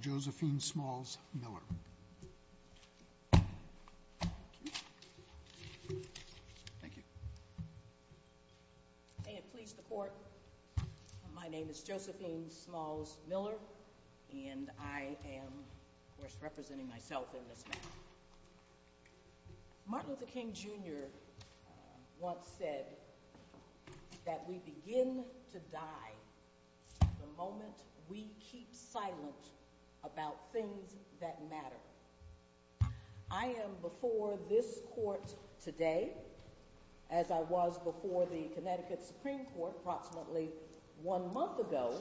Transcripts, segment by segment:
Josephine Smalls Miller and I am, of course, representing myself in this matter. Martin Luther King Jr. once said that we begin to die the moment we keep silent about things that matter. I am before this court today as I was before the Connecticut Supreme Court approximately one month ago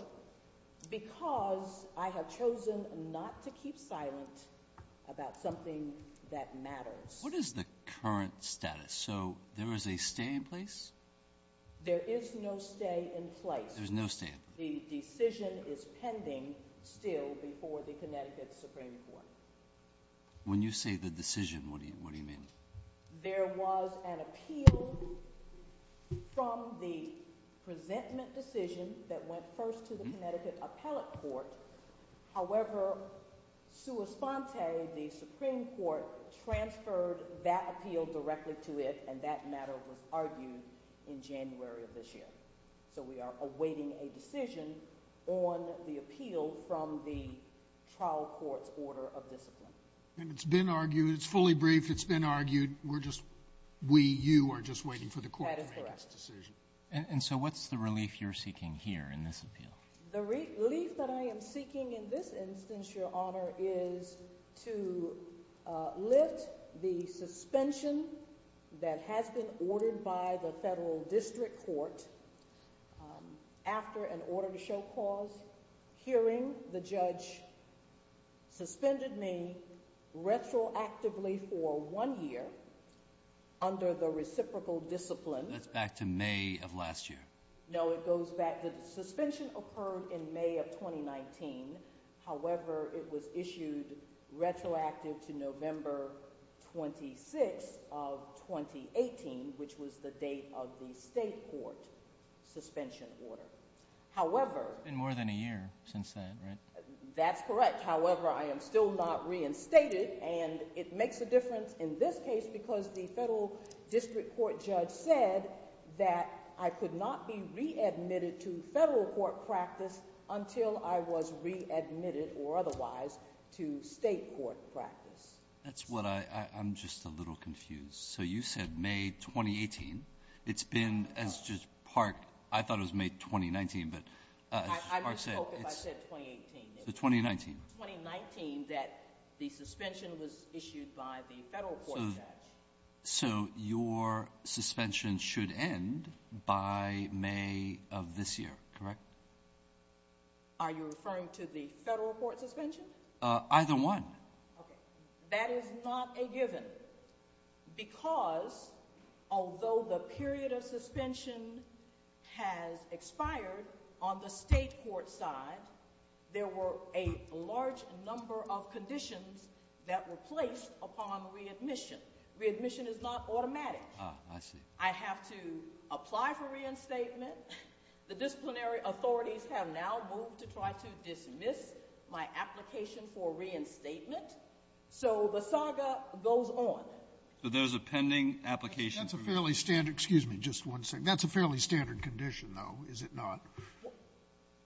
because I have chosen not to keep silent about something that matters. What is the current status? So there is a stay in place? There is no stay in place. The decision is pending still before the Connecticut Supreme Court. When you say the decision, what do you mean? There was an appeal from the presentment decision that went first to the Connecticut Appellate Court. However, sua sponte, the Supreme Court transferred that appeal directly to it and that matter was argued in January of this year. So we are awaiting a decision on the appeal from the trial court's order of discipline. And it's been argued, it's fully briefed, it's been argued, we're just, we, you are just waiting for the court to make its decision? That is correct. And so what's the relief you're seeking here in this appeal? The relief that I am seeking in this instance, Your Honor, is to lift the suspension that has been ordered by the Federal District Court after an order to show cause hearing. The judge suspended me retroactively for one year under the reciprocal discipline. That's back to May of last year. No, it goes back, the suspension occurred in May of 2019. However, it was issued retroactive to November 26 of 2018, which was the date of the state court suspension order. However, It's been more than a year since then, right? That's correct. However, I am still not reinstated and it makes a difference in this case because the Federal District Court judge said that I could not be readmitted to federal court practice until I was readmitted or otherwise to state court practice. That's what I, I'm just a little confused. So you said May 2018. It's been, as Judge Park, I thought it was May 2019, but. I misspoke if I said 2018. So 2019. 2019 that the suspension was issued by the federal court judge. So your suspension should end by May of this year, correct? Are you referring to the federal court suspension? Either one. That is not a given. Because although the period of suspension has expired on the state court side, there were a large number of conditions that were placed upon readmission. Readmission is not automatic. I see. The disciplinary authorities have now moved to try to dismiss my application for reinstatement. So the saga goes on. So there's a pending application. That's a fairly standard. Excuse me. Just one second. That's a fairly standard condition, though, is it not?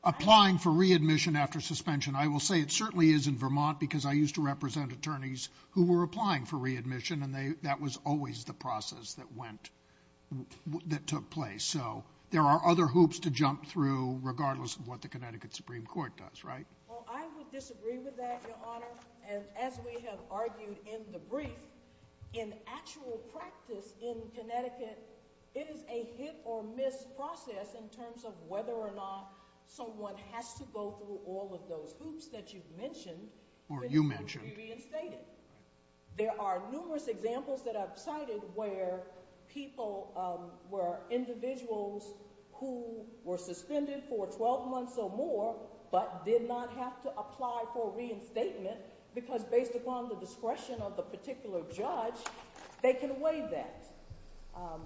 Applying for readmission after suspension. I will say it certainly is in Vermont, because I used to represent attorneys who were applying for readmission. And that was always the process that went, that took place. So there are other hoops to jump through, regardless of what the Connecticut Supreme Court does, right? Well, I would disagree with that, Your Honor. As we have argued in the brief, in actual practice in Connecticut, it is a hit-or-miss process in terms of whether or not someone has to go through all of those hoops that you've mentioned. Or you mentioned. To be reinstated. There are numerous examples that I've cited where people, where individuals who were suspended for 12 months or more, but did not have to apply for reinstatement, because based upon the discretion of the particular judge, they can waive that.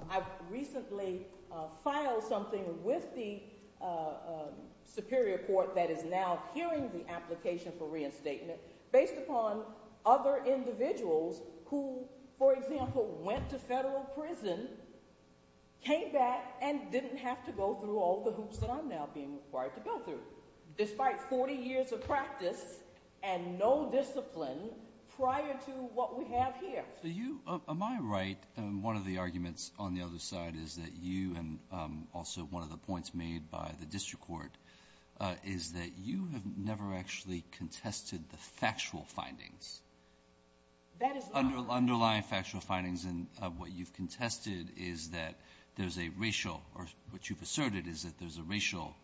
I recently filed something with the Superior Court that is now hearing the application for reinstatement based upon other individuals who, for example, went to federal prison, came back, and didn't have to go through all the hoops that I'm now being required to go through, despite 40 years of practice and no discipline prior to what we have here. So you, am I right, one of the arguments on the other side is that you, and also one of the points made by the district court, is that you have never actually contested the factual findings. That is not correct. Underlying factual findings, and what you've contested is that there's a racial, or what you've asserted is that there's a racial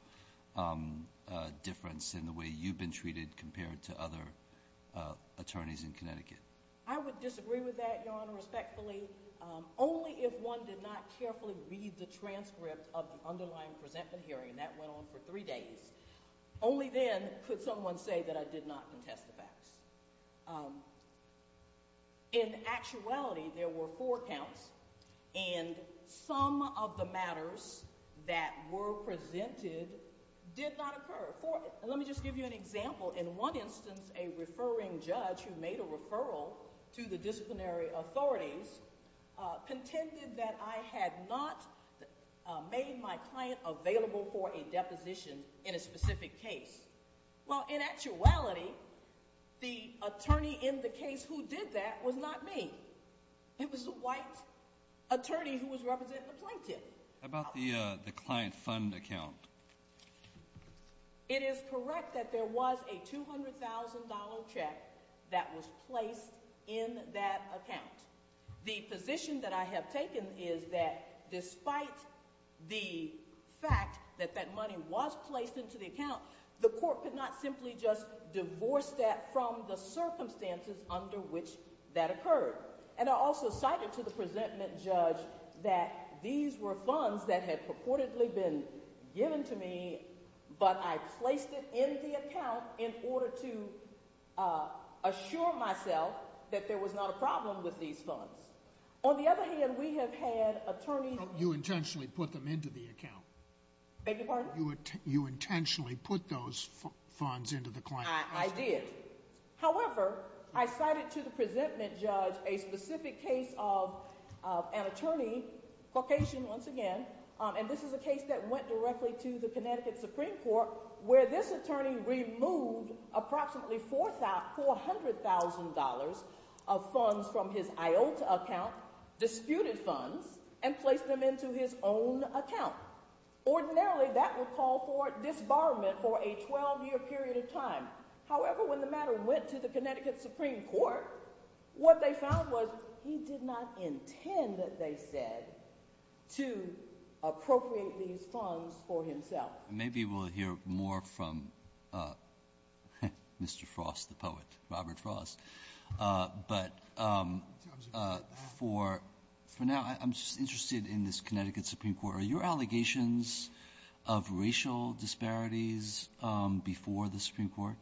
difference in the way you've been treated compared to other attorneys in Connecticut. I would disagree with that, Your Honor, respectfully. Only if one did not carefully read the transcript of the underlying presentment hearing, and that went on for three days, only then could someone say that I did not contest the facts. In actuality, there were four counts, and some of the matters that were presented did not occur. Let me just give you an example. In one instance, a referring judge who made a referral to the disciplinary authorities contended that I had not made my client available for a deposition in a specific case. Well, in actuality, the attorney in the case who did that was not me. It was the white attorney who was representing the plaintiff. How about the client fund account? It is correct that there was a $200,000 check that was placed in that account. The position that I have taken is that despite the fact that that money was placed into the account, the court could not simply just divorce that from the circumstances under which that occurred. And I also cited to the presentment judge that these were funds that had purportedly been given to me, but I placed it in the account in order to assure myself that there was not a problem with these funds. On the other hand, we have had attorneys… You intentionally put them into the account. Beg your pardon? You intentionally put those funds into the client's account. I did. However, I cited to the presentment judge a specific case of an attorney, Caucasian once again, and this is a case that went directly to the Connecticut Supreme Court where this attorney removed approximately $400,000 of funds from his IOTA account, disputed funds, and placed them into his own account. Ordinarily, that would call for disbarment for a 12-year period of time. However, when the matter went to the Connecticut Supreme Court, what they found was he did not intend, they said, to appropriate these funds for himself. Maybe we'll hear more from Mr. Frost, the poet, Robert Frost. But for now, I'm just interested in this Connecticut Supreme Court. Are your allegations of racial disparities before the Supreme Court?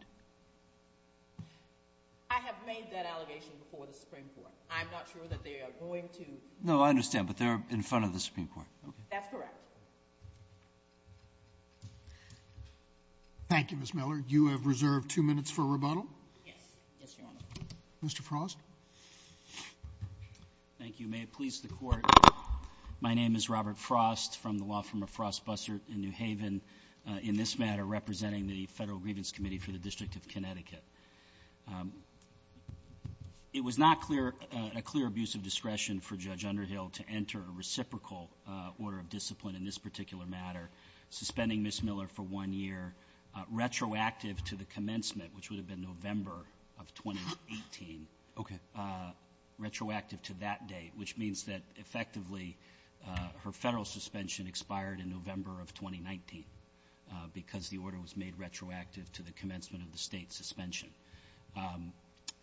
I have made that allegation before the Supreme Court. I'm not sure that they are going to… No, I understand, but they're in front of the Supreme Court. That's correct. Thank you, Ms. Miller. You have reserved two minutes for rebuttal. Yes, Your Honor. Mr. Frost. Thank you. May it please the Court, my name is Robert Frost from the law firm of Frost Bussert in New Haven. In this matter, representing the Federal Grievance Committee for the District of Connecticut. It was not a clear abuse of discretion for Judge Underhill to enter a reciprocal order of discipline in this particular matter, suspending Ms. Miller for one year, retroactive to the commencement, which would have been November of 2018. Okay. Retroactive to that date, which means that effectively her Federal suspension expired in November of 2019 because the order was made retroactive to the commencement of the State's suspension.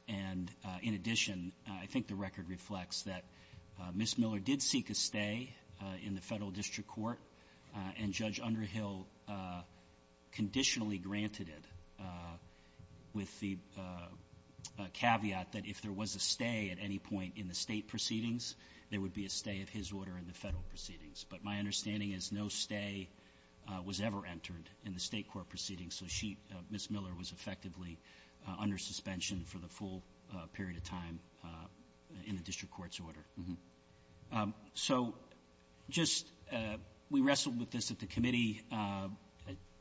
And in addition, I think the record reflects that Ms. Miller did seek a stay in the Federal District Court and Judge Underhill conditionally granted it with the caveat that if there was a stay at any point in the State proceedings, there would be a stay of his order in the Federal proceedings. But my understanding is no stay was ever entered in the State court proceedings, so she, Ms. Miller, was effectively under suspension for the full period of time in the District Court's order. So just we wrestled with this at the committee.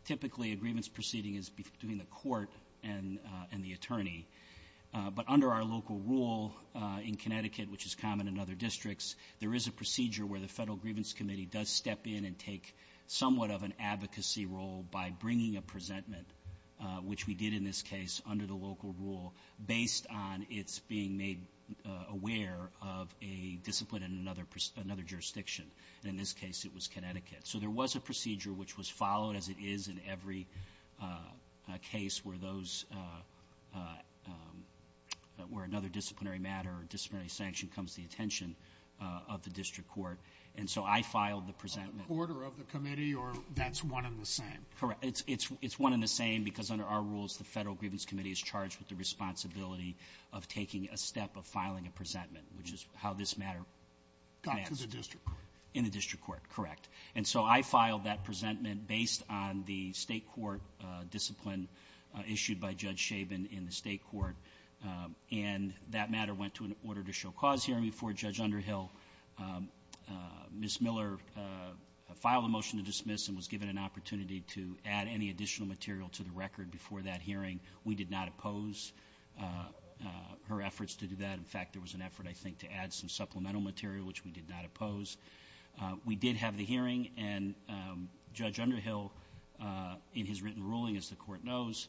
Typically, a grievance proceeding is between the court and the attorney. But under our local rule in Connecticut, which is common in other districts, there is a procedure where the Federal Grievance Committee does step in and take somewhat of an advocacy role by bringing a presentment, which we did in this case under the local rule, based on its being made aware of a discipline in another jurisdiction. And in this case, it was Connecticut. So there was a procedure which was followed, as it is in every case, where another disciplinary matter or disciplinary sanction comes to the attention of the District Court. And so I filed the presentment. On the order of the committee, or that's one and the same? Correct. It's one and the same because under our rules, the Federal Grievance Committee is charged with the responsibility of taking a step of filing a presentment, which is how this matter got to the District Court. In the District Court, correct. And so I filed that presentment based on the State court discipline issued by Judge Schaben in the State court. And that matter went to an order to show cause hearing before Judge Underhill. Ms. Miller filed a motion to dismiss and was given an opportunity to add any additional material to the record before that hearing. We did not oppose her efforts to do that. In fact, there was an effort, I think, to add some supplemental material, which we did not oppose. We did have the hearing, and Judge Underhill, in his written ruling, as the court knows,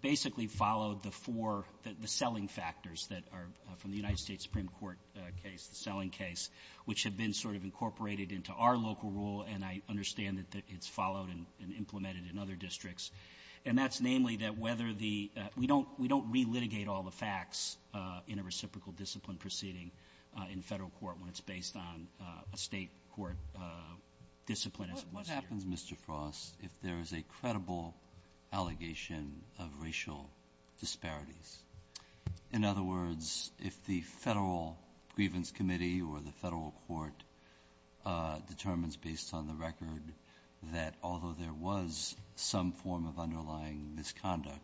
basically followed the four, the selling factors that are from the United States Supreme Court case, the selling case, which had been sort of incorporated into our local rule. And I understand that it's followed and implemented in other districts. And that's namely that whether the we don't relitigate all the facts in a reciprocal discipline proceeding in Federal court when it's based on a State court discipline as it was here. If there is a credible allegation of racial disparities. In other words, if the Federal Grievance Committee or the Federal court determines based on the record that although there was some form of underlying misconduct,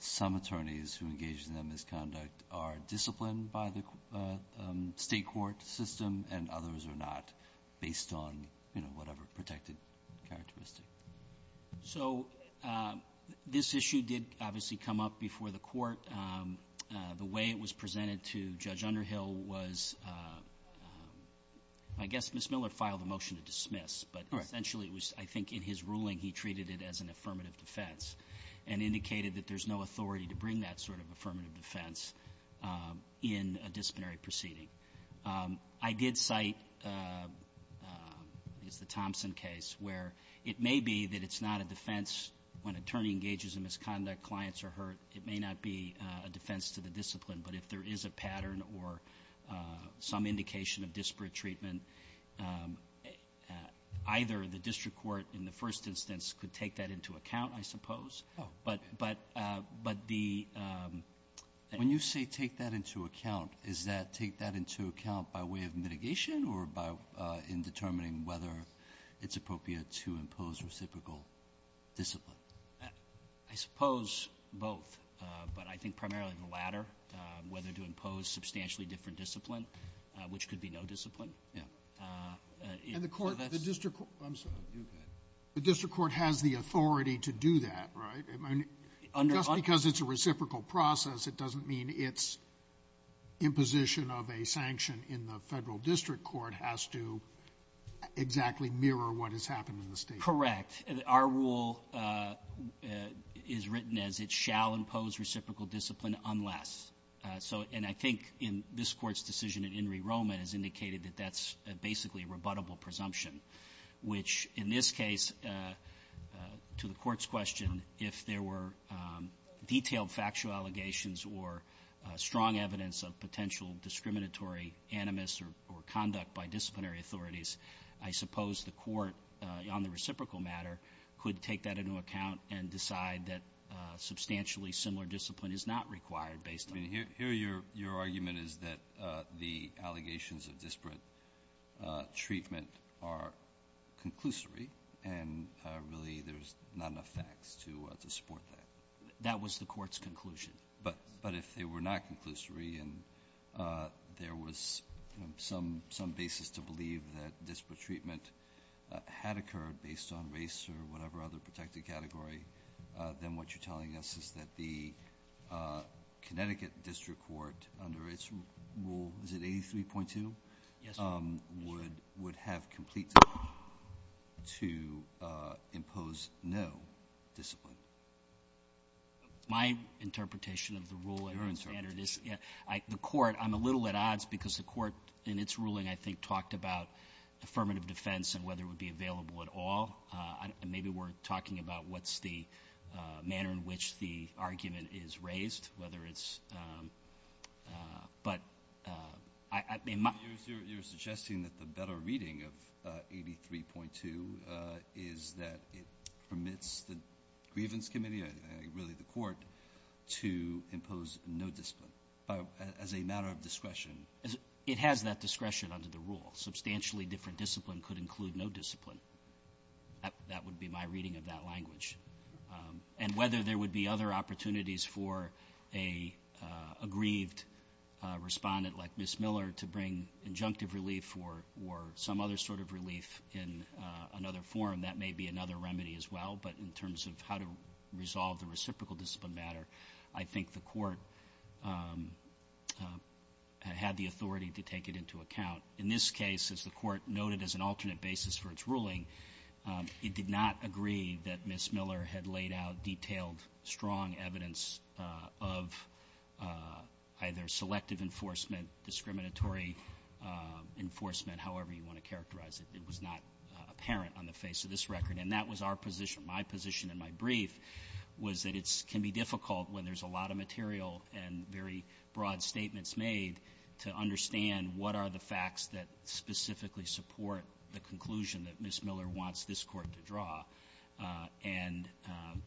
some attorneys who engage in that misconduct are disciplined by the State court system and others are not based on, you know, whatever protected characteristic. So this issue did obviously come up before the court. The way it was presented to Judge Underhill was, I guess Ms. Miller filed a motion to dismiss. But essentially it was, I think, in his ruling he treated it as an affirmative defense and indicated that there's no authority to bring that sort of affirmative defense in a disciplinary proceeding. I did cite the Thompson case where it may be that it's not a defense. When an attorney engages in misconduct, clients are hurt. It may not be a defense to the discipline. But if there is a pattern or some indication of disparate treatment, either the district court in the first instance could take that into account, I suppose. But the ---- of mitigation or by in determining whether it's appropriate to impose reciprocal discipline? I suppose both. But I think primarily the latter, whether to impose substantially different discipline, which could be no discipline. Yeah. And the court ---- I'm sorry. Go ahead. The district court has the authority to do that, right? Under ---- Because it's a reciprocal process, it doesn't mean it's imposition of a sanction in the federal district court has to exactly mirror what has happened in the state. Correct. Our rule is written as it shall impose reciprocal discipline unless. So ---- and I think in this Court's decision in In re Roma, it is indicated that that's basically a rebuttable presumption, which in this case, to the Court's question, if there were detailed factual allegations or strong evidence of potential discriminatory animus or conduct by disciplinary authorities, I suppose the Court on the reciprocal matter could take that into account and decide that substantially similar discipline is not required based on. I mean, here your argument is that the allegations of disparate treatment are conclusory and really there's not enough facts to support that. That was the Court's conclusion. But if they were not conclusory and there was some basis to believe that disparate treatment had occurred based on race or whatever other protected category, then what you're telling us is that the Connecticut district court, under its rule, is it 83.2? Yes. Would have complete to impose no discipline. My interpretation of the rule and the standard is the Court, I'm a little at odds because the Court in its ruling, I think, talked about affirmative defense and whether it would be available at all. Maybe we're talking about what's the manner in which the argument is raised, whether it's ‑‑ but I ‑‑ You're suggesting that the better reading of 83.2 is that it permits the grievance committee, really the Court, to impose no discipline as a matter of discretion. It has that discretion under the rule. Substantially different discipline could include no discipline. That would be my reading of that language. And whether there would be other opportunities for a aggrieved respondent like Ms. Miller to bring injunctive relief or some other sort of relief in another form, that may be another remedy as well. But in terms of how to resolve the reciprocal discipline matter, I think the Court had the authority to take it into account. In this case, as the Court noted as an alternate basis for its ruling, it did not agree that Ms. Miller had laid out detailed, strong evidence of either selective enforcement, discriminatory enforcement, however you want to characterize it. It was not apparent on the face of this record. And that was our position. My position in my brief was that it can be difficult when there's a lot of material and very broad statements made to understand what are the facts that specifically support the conclusion that Ms. Miller wants this Court to draw. And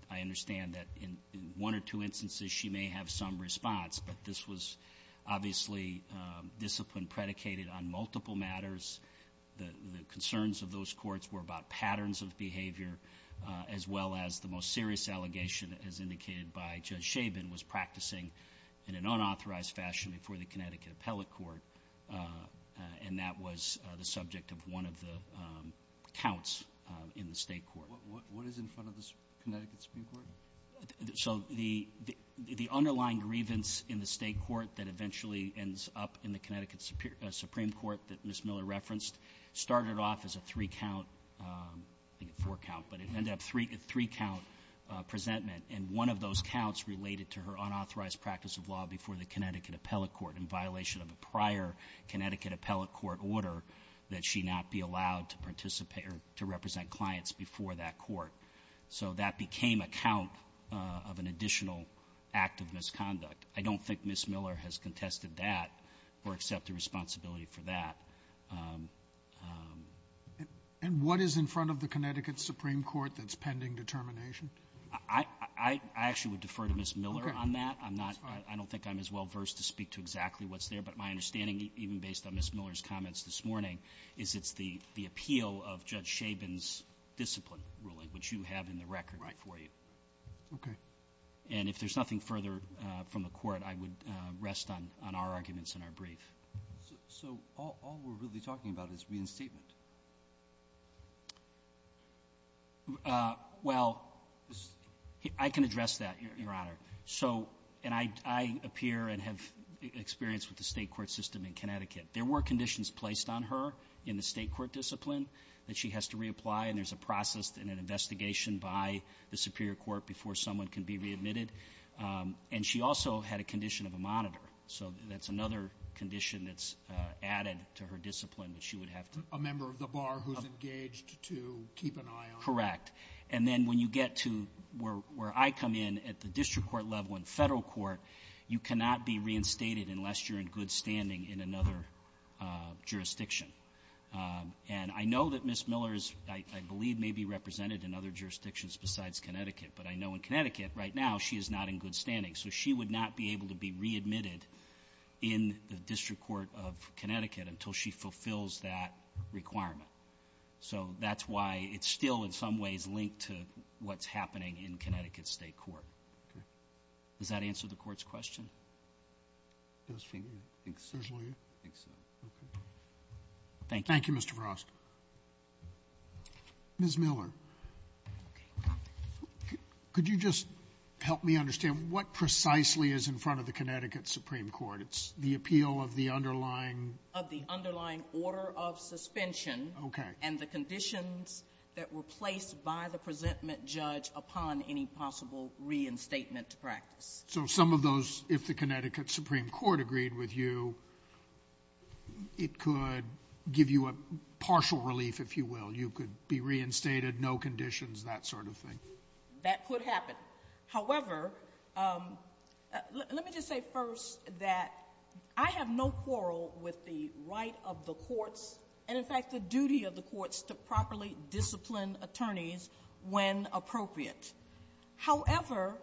I understand that in one or two instances she may have some response, but this was obviously discipline predicated on multiple matters. The concerns of those courts were about patterns of behavior, as well as the most serious allegation, as indicated by Judge Chabin, was practicing in an unauthorized fashion before the Connecticut Appellate Court. And that was the subject of one of the counts in the State Court. What is in front of the Connecticut Supreme Court? So the underlying grievance in the State Court that eventually ends up in the Connecticut Supreme Court that Ms. Miller referenced started off as a three-count, I think a four-count, but it ended up a three-count presentment. And one of those counts related to her unauthorized practice of law before the Connecticut Appellate Court in violation of a prior Connecticut Appellate Court order that she not be allowed to participate or to represent clients before that court. So that became a count of an additional act of misconduct. I don't think Ms. Miller has contested that or accepted responsibility for that. And what is in front of the Connecticut Supreme Court that's pending determination? I actually would defer to Ms. Miller on that. I'm not – I don't think I'm as well-versed to speak to exactly what's there. But my understanding, even based on Ms. Miller's comments this morning, is it's the appeal of Judge Chabon's discipline ruling, which you have in the record before you. Okay. And if there's nothing further from the Court, I would rest on our arguments in our brief. So all we're really talking about is reinstatement? Well, I can address that, Your Honor. So – and I appear and have experience with the state court system in Connecticut. There were conditions placed on her in the state court discipline that she has to reapply, and there's a process and an investigation by the superior court before someone can be readmitted. And she also had a condition of a monitor. So that's another condition that's added to her discipline that she would have to – A member of the bar who's engaged to keep an eye on. Correct. Correct. And then when you get to where I come in at the district court level in federal court, you cannot be reinstated unless you're in good standing in another jurisdiction. And I know that Ms. Miller is – I believe may be represented in other jurisdictions besides Connecticut, but I know in Connecticut right now she is not in good standing. So she would not be able to be readmitted in the District Court of Connecticut until she fulfills that requirement. So that's why it's still in some ways linked to what's happening in Connecticut state court. Okay. Does that answer the court's question? I think so. I think so. Okay. Thank you. Thank you, Mr. Vrosk. Ms. Miller. Okay. Could you just help me understand what precisely is in front of the Connecticut Supreme Court? It's the appeal of the underlying – Okay. – and the conditions that were placed by the presentment judge upon any possible reinstatement practice. So some of those, if the Connecticut Supreme Court agreed with you, it could give you a partial relief, if you will. You could be reinstated, no conditions, that sort of thing. That could happen. However, let me just say first that I have no quarrel with the right of the courts and, in fact, the duty of the courts to properly discipline attorneys when appropriate. However,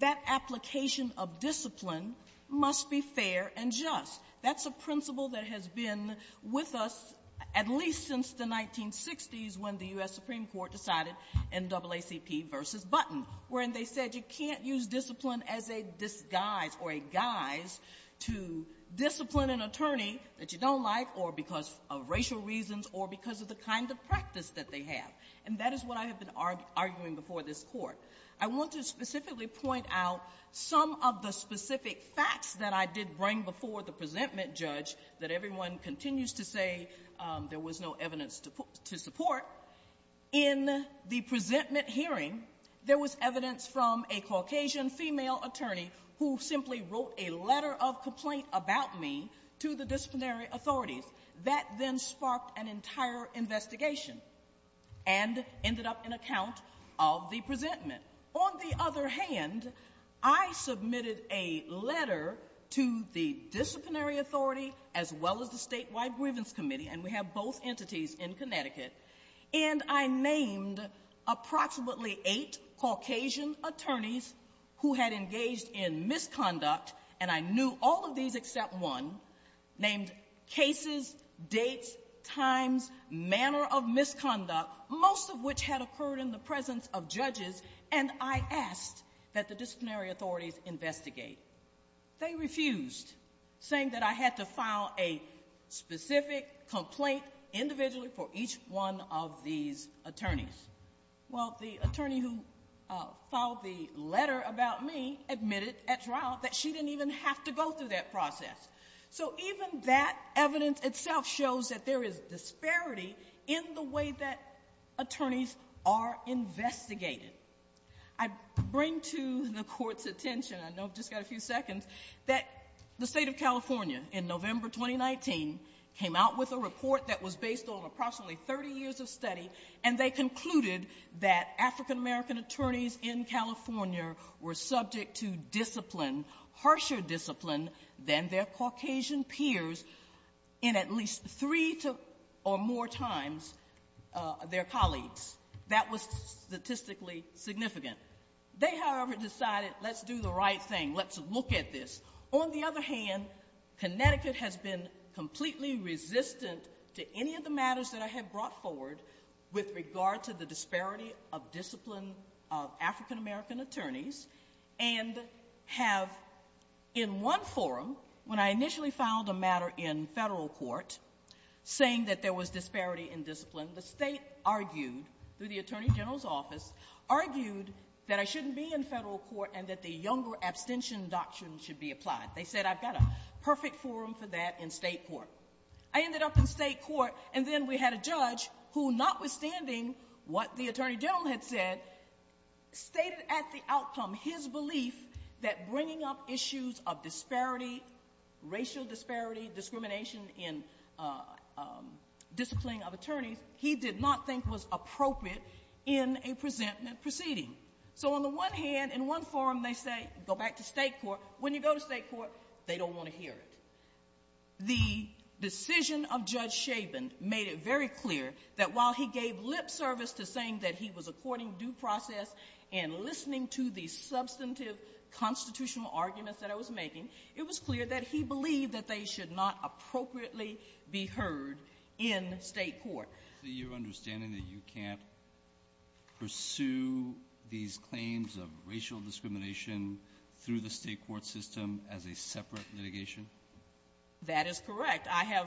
that application of discipline must be fair and just. That's a principle that has been with us at least since the 1960s when the U.S. Supreme Court decided NAACP versus Button, wherein they said you can't use discipline as a disguise or a guise to discipline an attorney that you don't like or because of racial reasons or because of the kind of practice that they have. And that is what I have been arguing before this Court. I want to specifically point out some of the specific facts that I did bring before the presentment judge that everyone continues to say there was no evidence to support. In the presentment hearing, there was evidence from a Caucasian female attorney who simply wrote a letter of complaint about me to the disciplinary authorities. That then sparked an entire investigation and ended up in a count of the presentment. On the other hand, I submitted a letter to the disciplinary authority as well as the statewide grievance committee, and we have both entities in Connecticut, and I named approximately eight Caucasian attorneys who had engaged in misconduct, and I knew all of these except one, named cases, dates, times, manner of misconduct, most of which had occurred in the presence of judges, and I asked that the disciplinary authorities investigate. They refused, saying that I had to file a specific complaint individually for each one of these attorneys. Well, the attorney who filed the letter about me admitted at trial that she didn't even have to go through that process. So even that evidence itself shows that there is disparity in the way that attorneys are investigated. I bring to the Court's attention, I know I've just got a few seconds, that the state of California in November 2019 came out with a report that was based on approximately 30 years of study, and they concluded that African American attorneys in California were subject to discipline, harsher discipline than their Caucasian peers in at least three or more times their colleagues. That was statistically significant. They, however, decided, let's do the right thing, let's look at this. On the other hand, Connecticut has been completely resistant to any of the matters that I have brought forward with regard to the disparity of discipline of African American attorneys, and have in one forum, when I initially filed a matter in federal court saying that there was disparity in discipline, the state argued, through the attorney general's office, argued that I shouldn't be in federal court and that the younger abstention doctrine should be applied. They said I've got a perfect forum for that in state court. I ended up in state court, and then we had a judge who, notwithstanding what the attorney general had said, stated at the outcome his belief that bringing up issues of disparity, racial disparity, discrimination in discipline of attorneys, he did not think was appropriate in a presentment proceeding. So on the one hand, in one forum they say go back to state court. When you go to state court, they don't want to hear it. The decision of Judge Chabin made it very clear that while he gave lip service to saying that he was according to due process and listening to the substantive constitutional arguments that I was making, it was clear that he believed that they should not appropriately be heard in state court. So you're understanding that you can't pursue these claims of racial discrimination through the state court system as a separate litigation? That is correct. I have,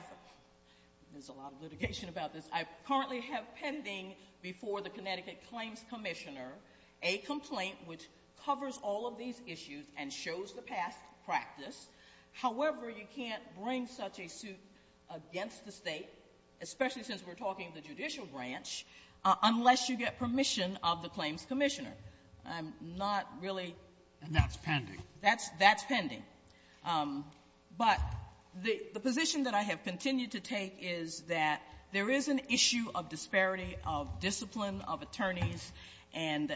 there's a lot of litigation about this, I currently have pending before the Connecticut Claims Commissioner a complaint which covers all of these issues and shows the past practice. However, you can't bring such a suit against the State, especially since we're talking the judicial branch, unless you get permission of the Claims Commissioner. I'm not really ---- And that's pending. That's pending. But the position that I have continued to take is that there is an issue of disparity of discipline, of attorneys, and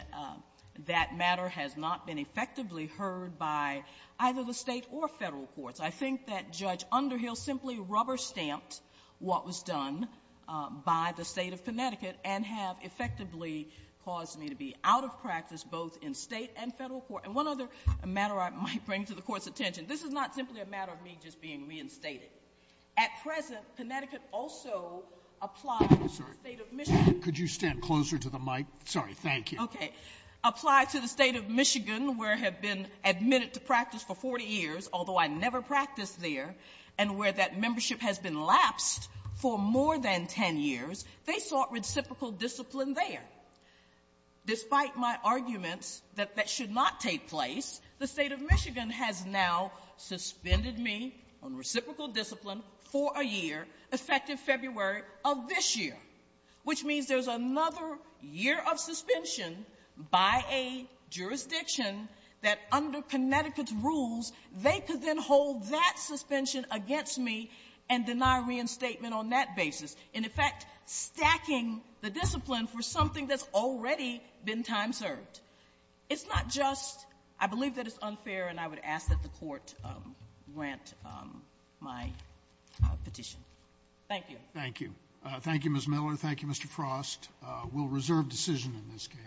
that matter has not been effectively heard by either the State or Federal courts. I think that Judge Underhill simply rubber-stamped what was done by the State of Connecticut and have effectively caused me to be out of practice both in State and Federal court. And one other matter I might bring to the Court's attention, this is not simply a matter of me just being reinstated. At present, Connecticut also applies to the State of Michigan. Could you stand closer to the mic? Sorry. Thank you. Okay. Applies to the State of Michigan where I have been admitted to practice for 40 years, although I never practiced there, and where that membership has been lapsed for more than 10 years, they sought reciprocal discipline there. Despite my arguments that that should not take place, the State of Michigan has now suspended me on reciprocal discipline for a year, effective February of this year, which means there's another year of suspension by a jurisdiction that under Connecticut's rules, they could then hold that suspension against me and deny reinstatement on that basis, in effect stacking the discipline for something that's already been time-served. It's not just — I believe that it's unfair, and I would ask that the Court grant my petition. Thank you. Thank you. Thank you, Ms. Miller. Thank you, Mr. Frost. We'll reserve decision in this case.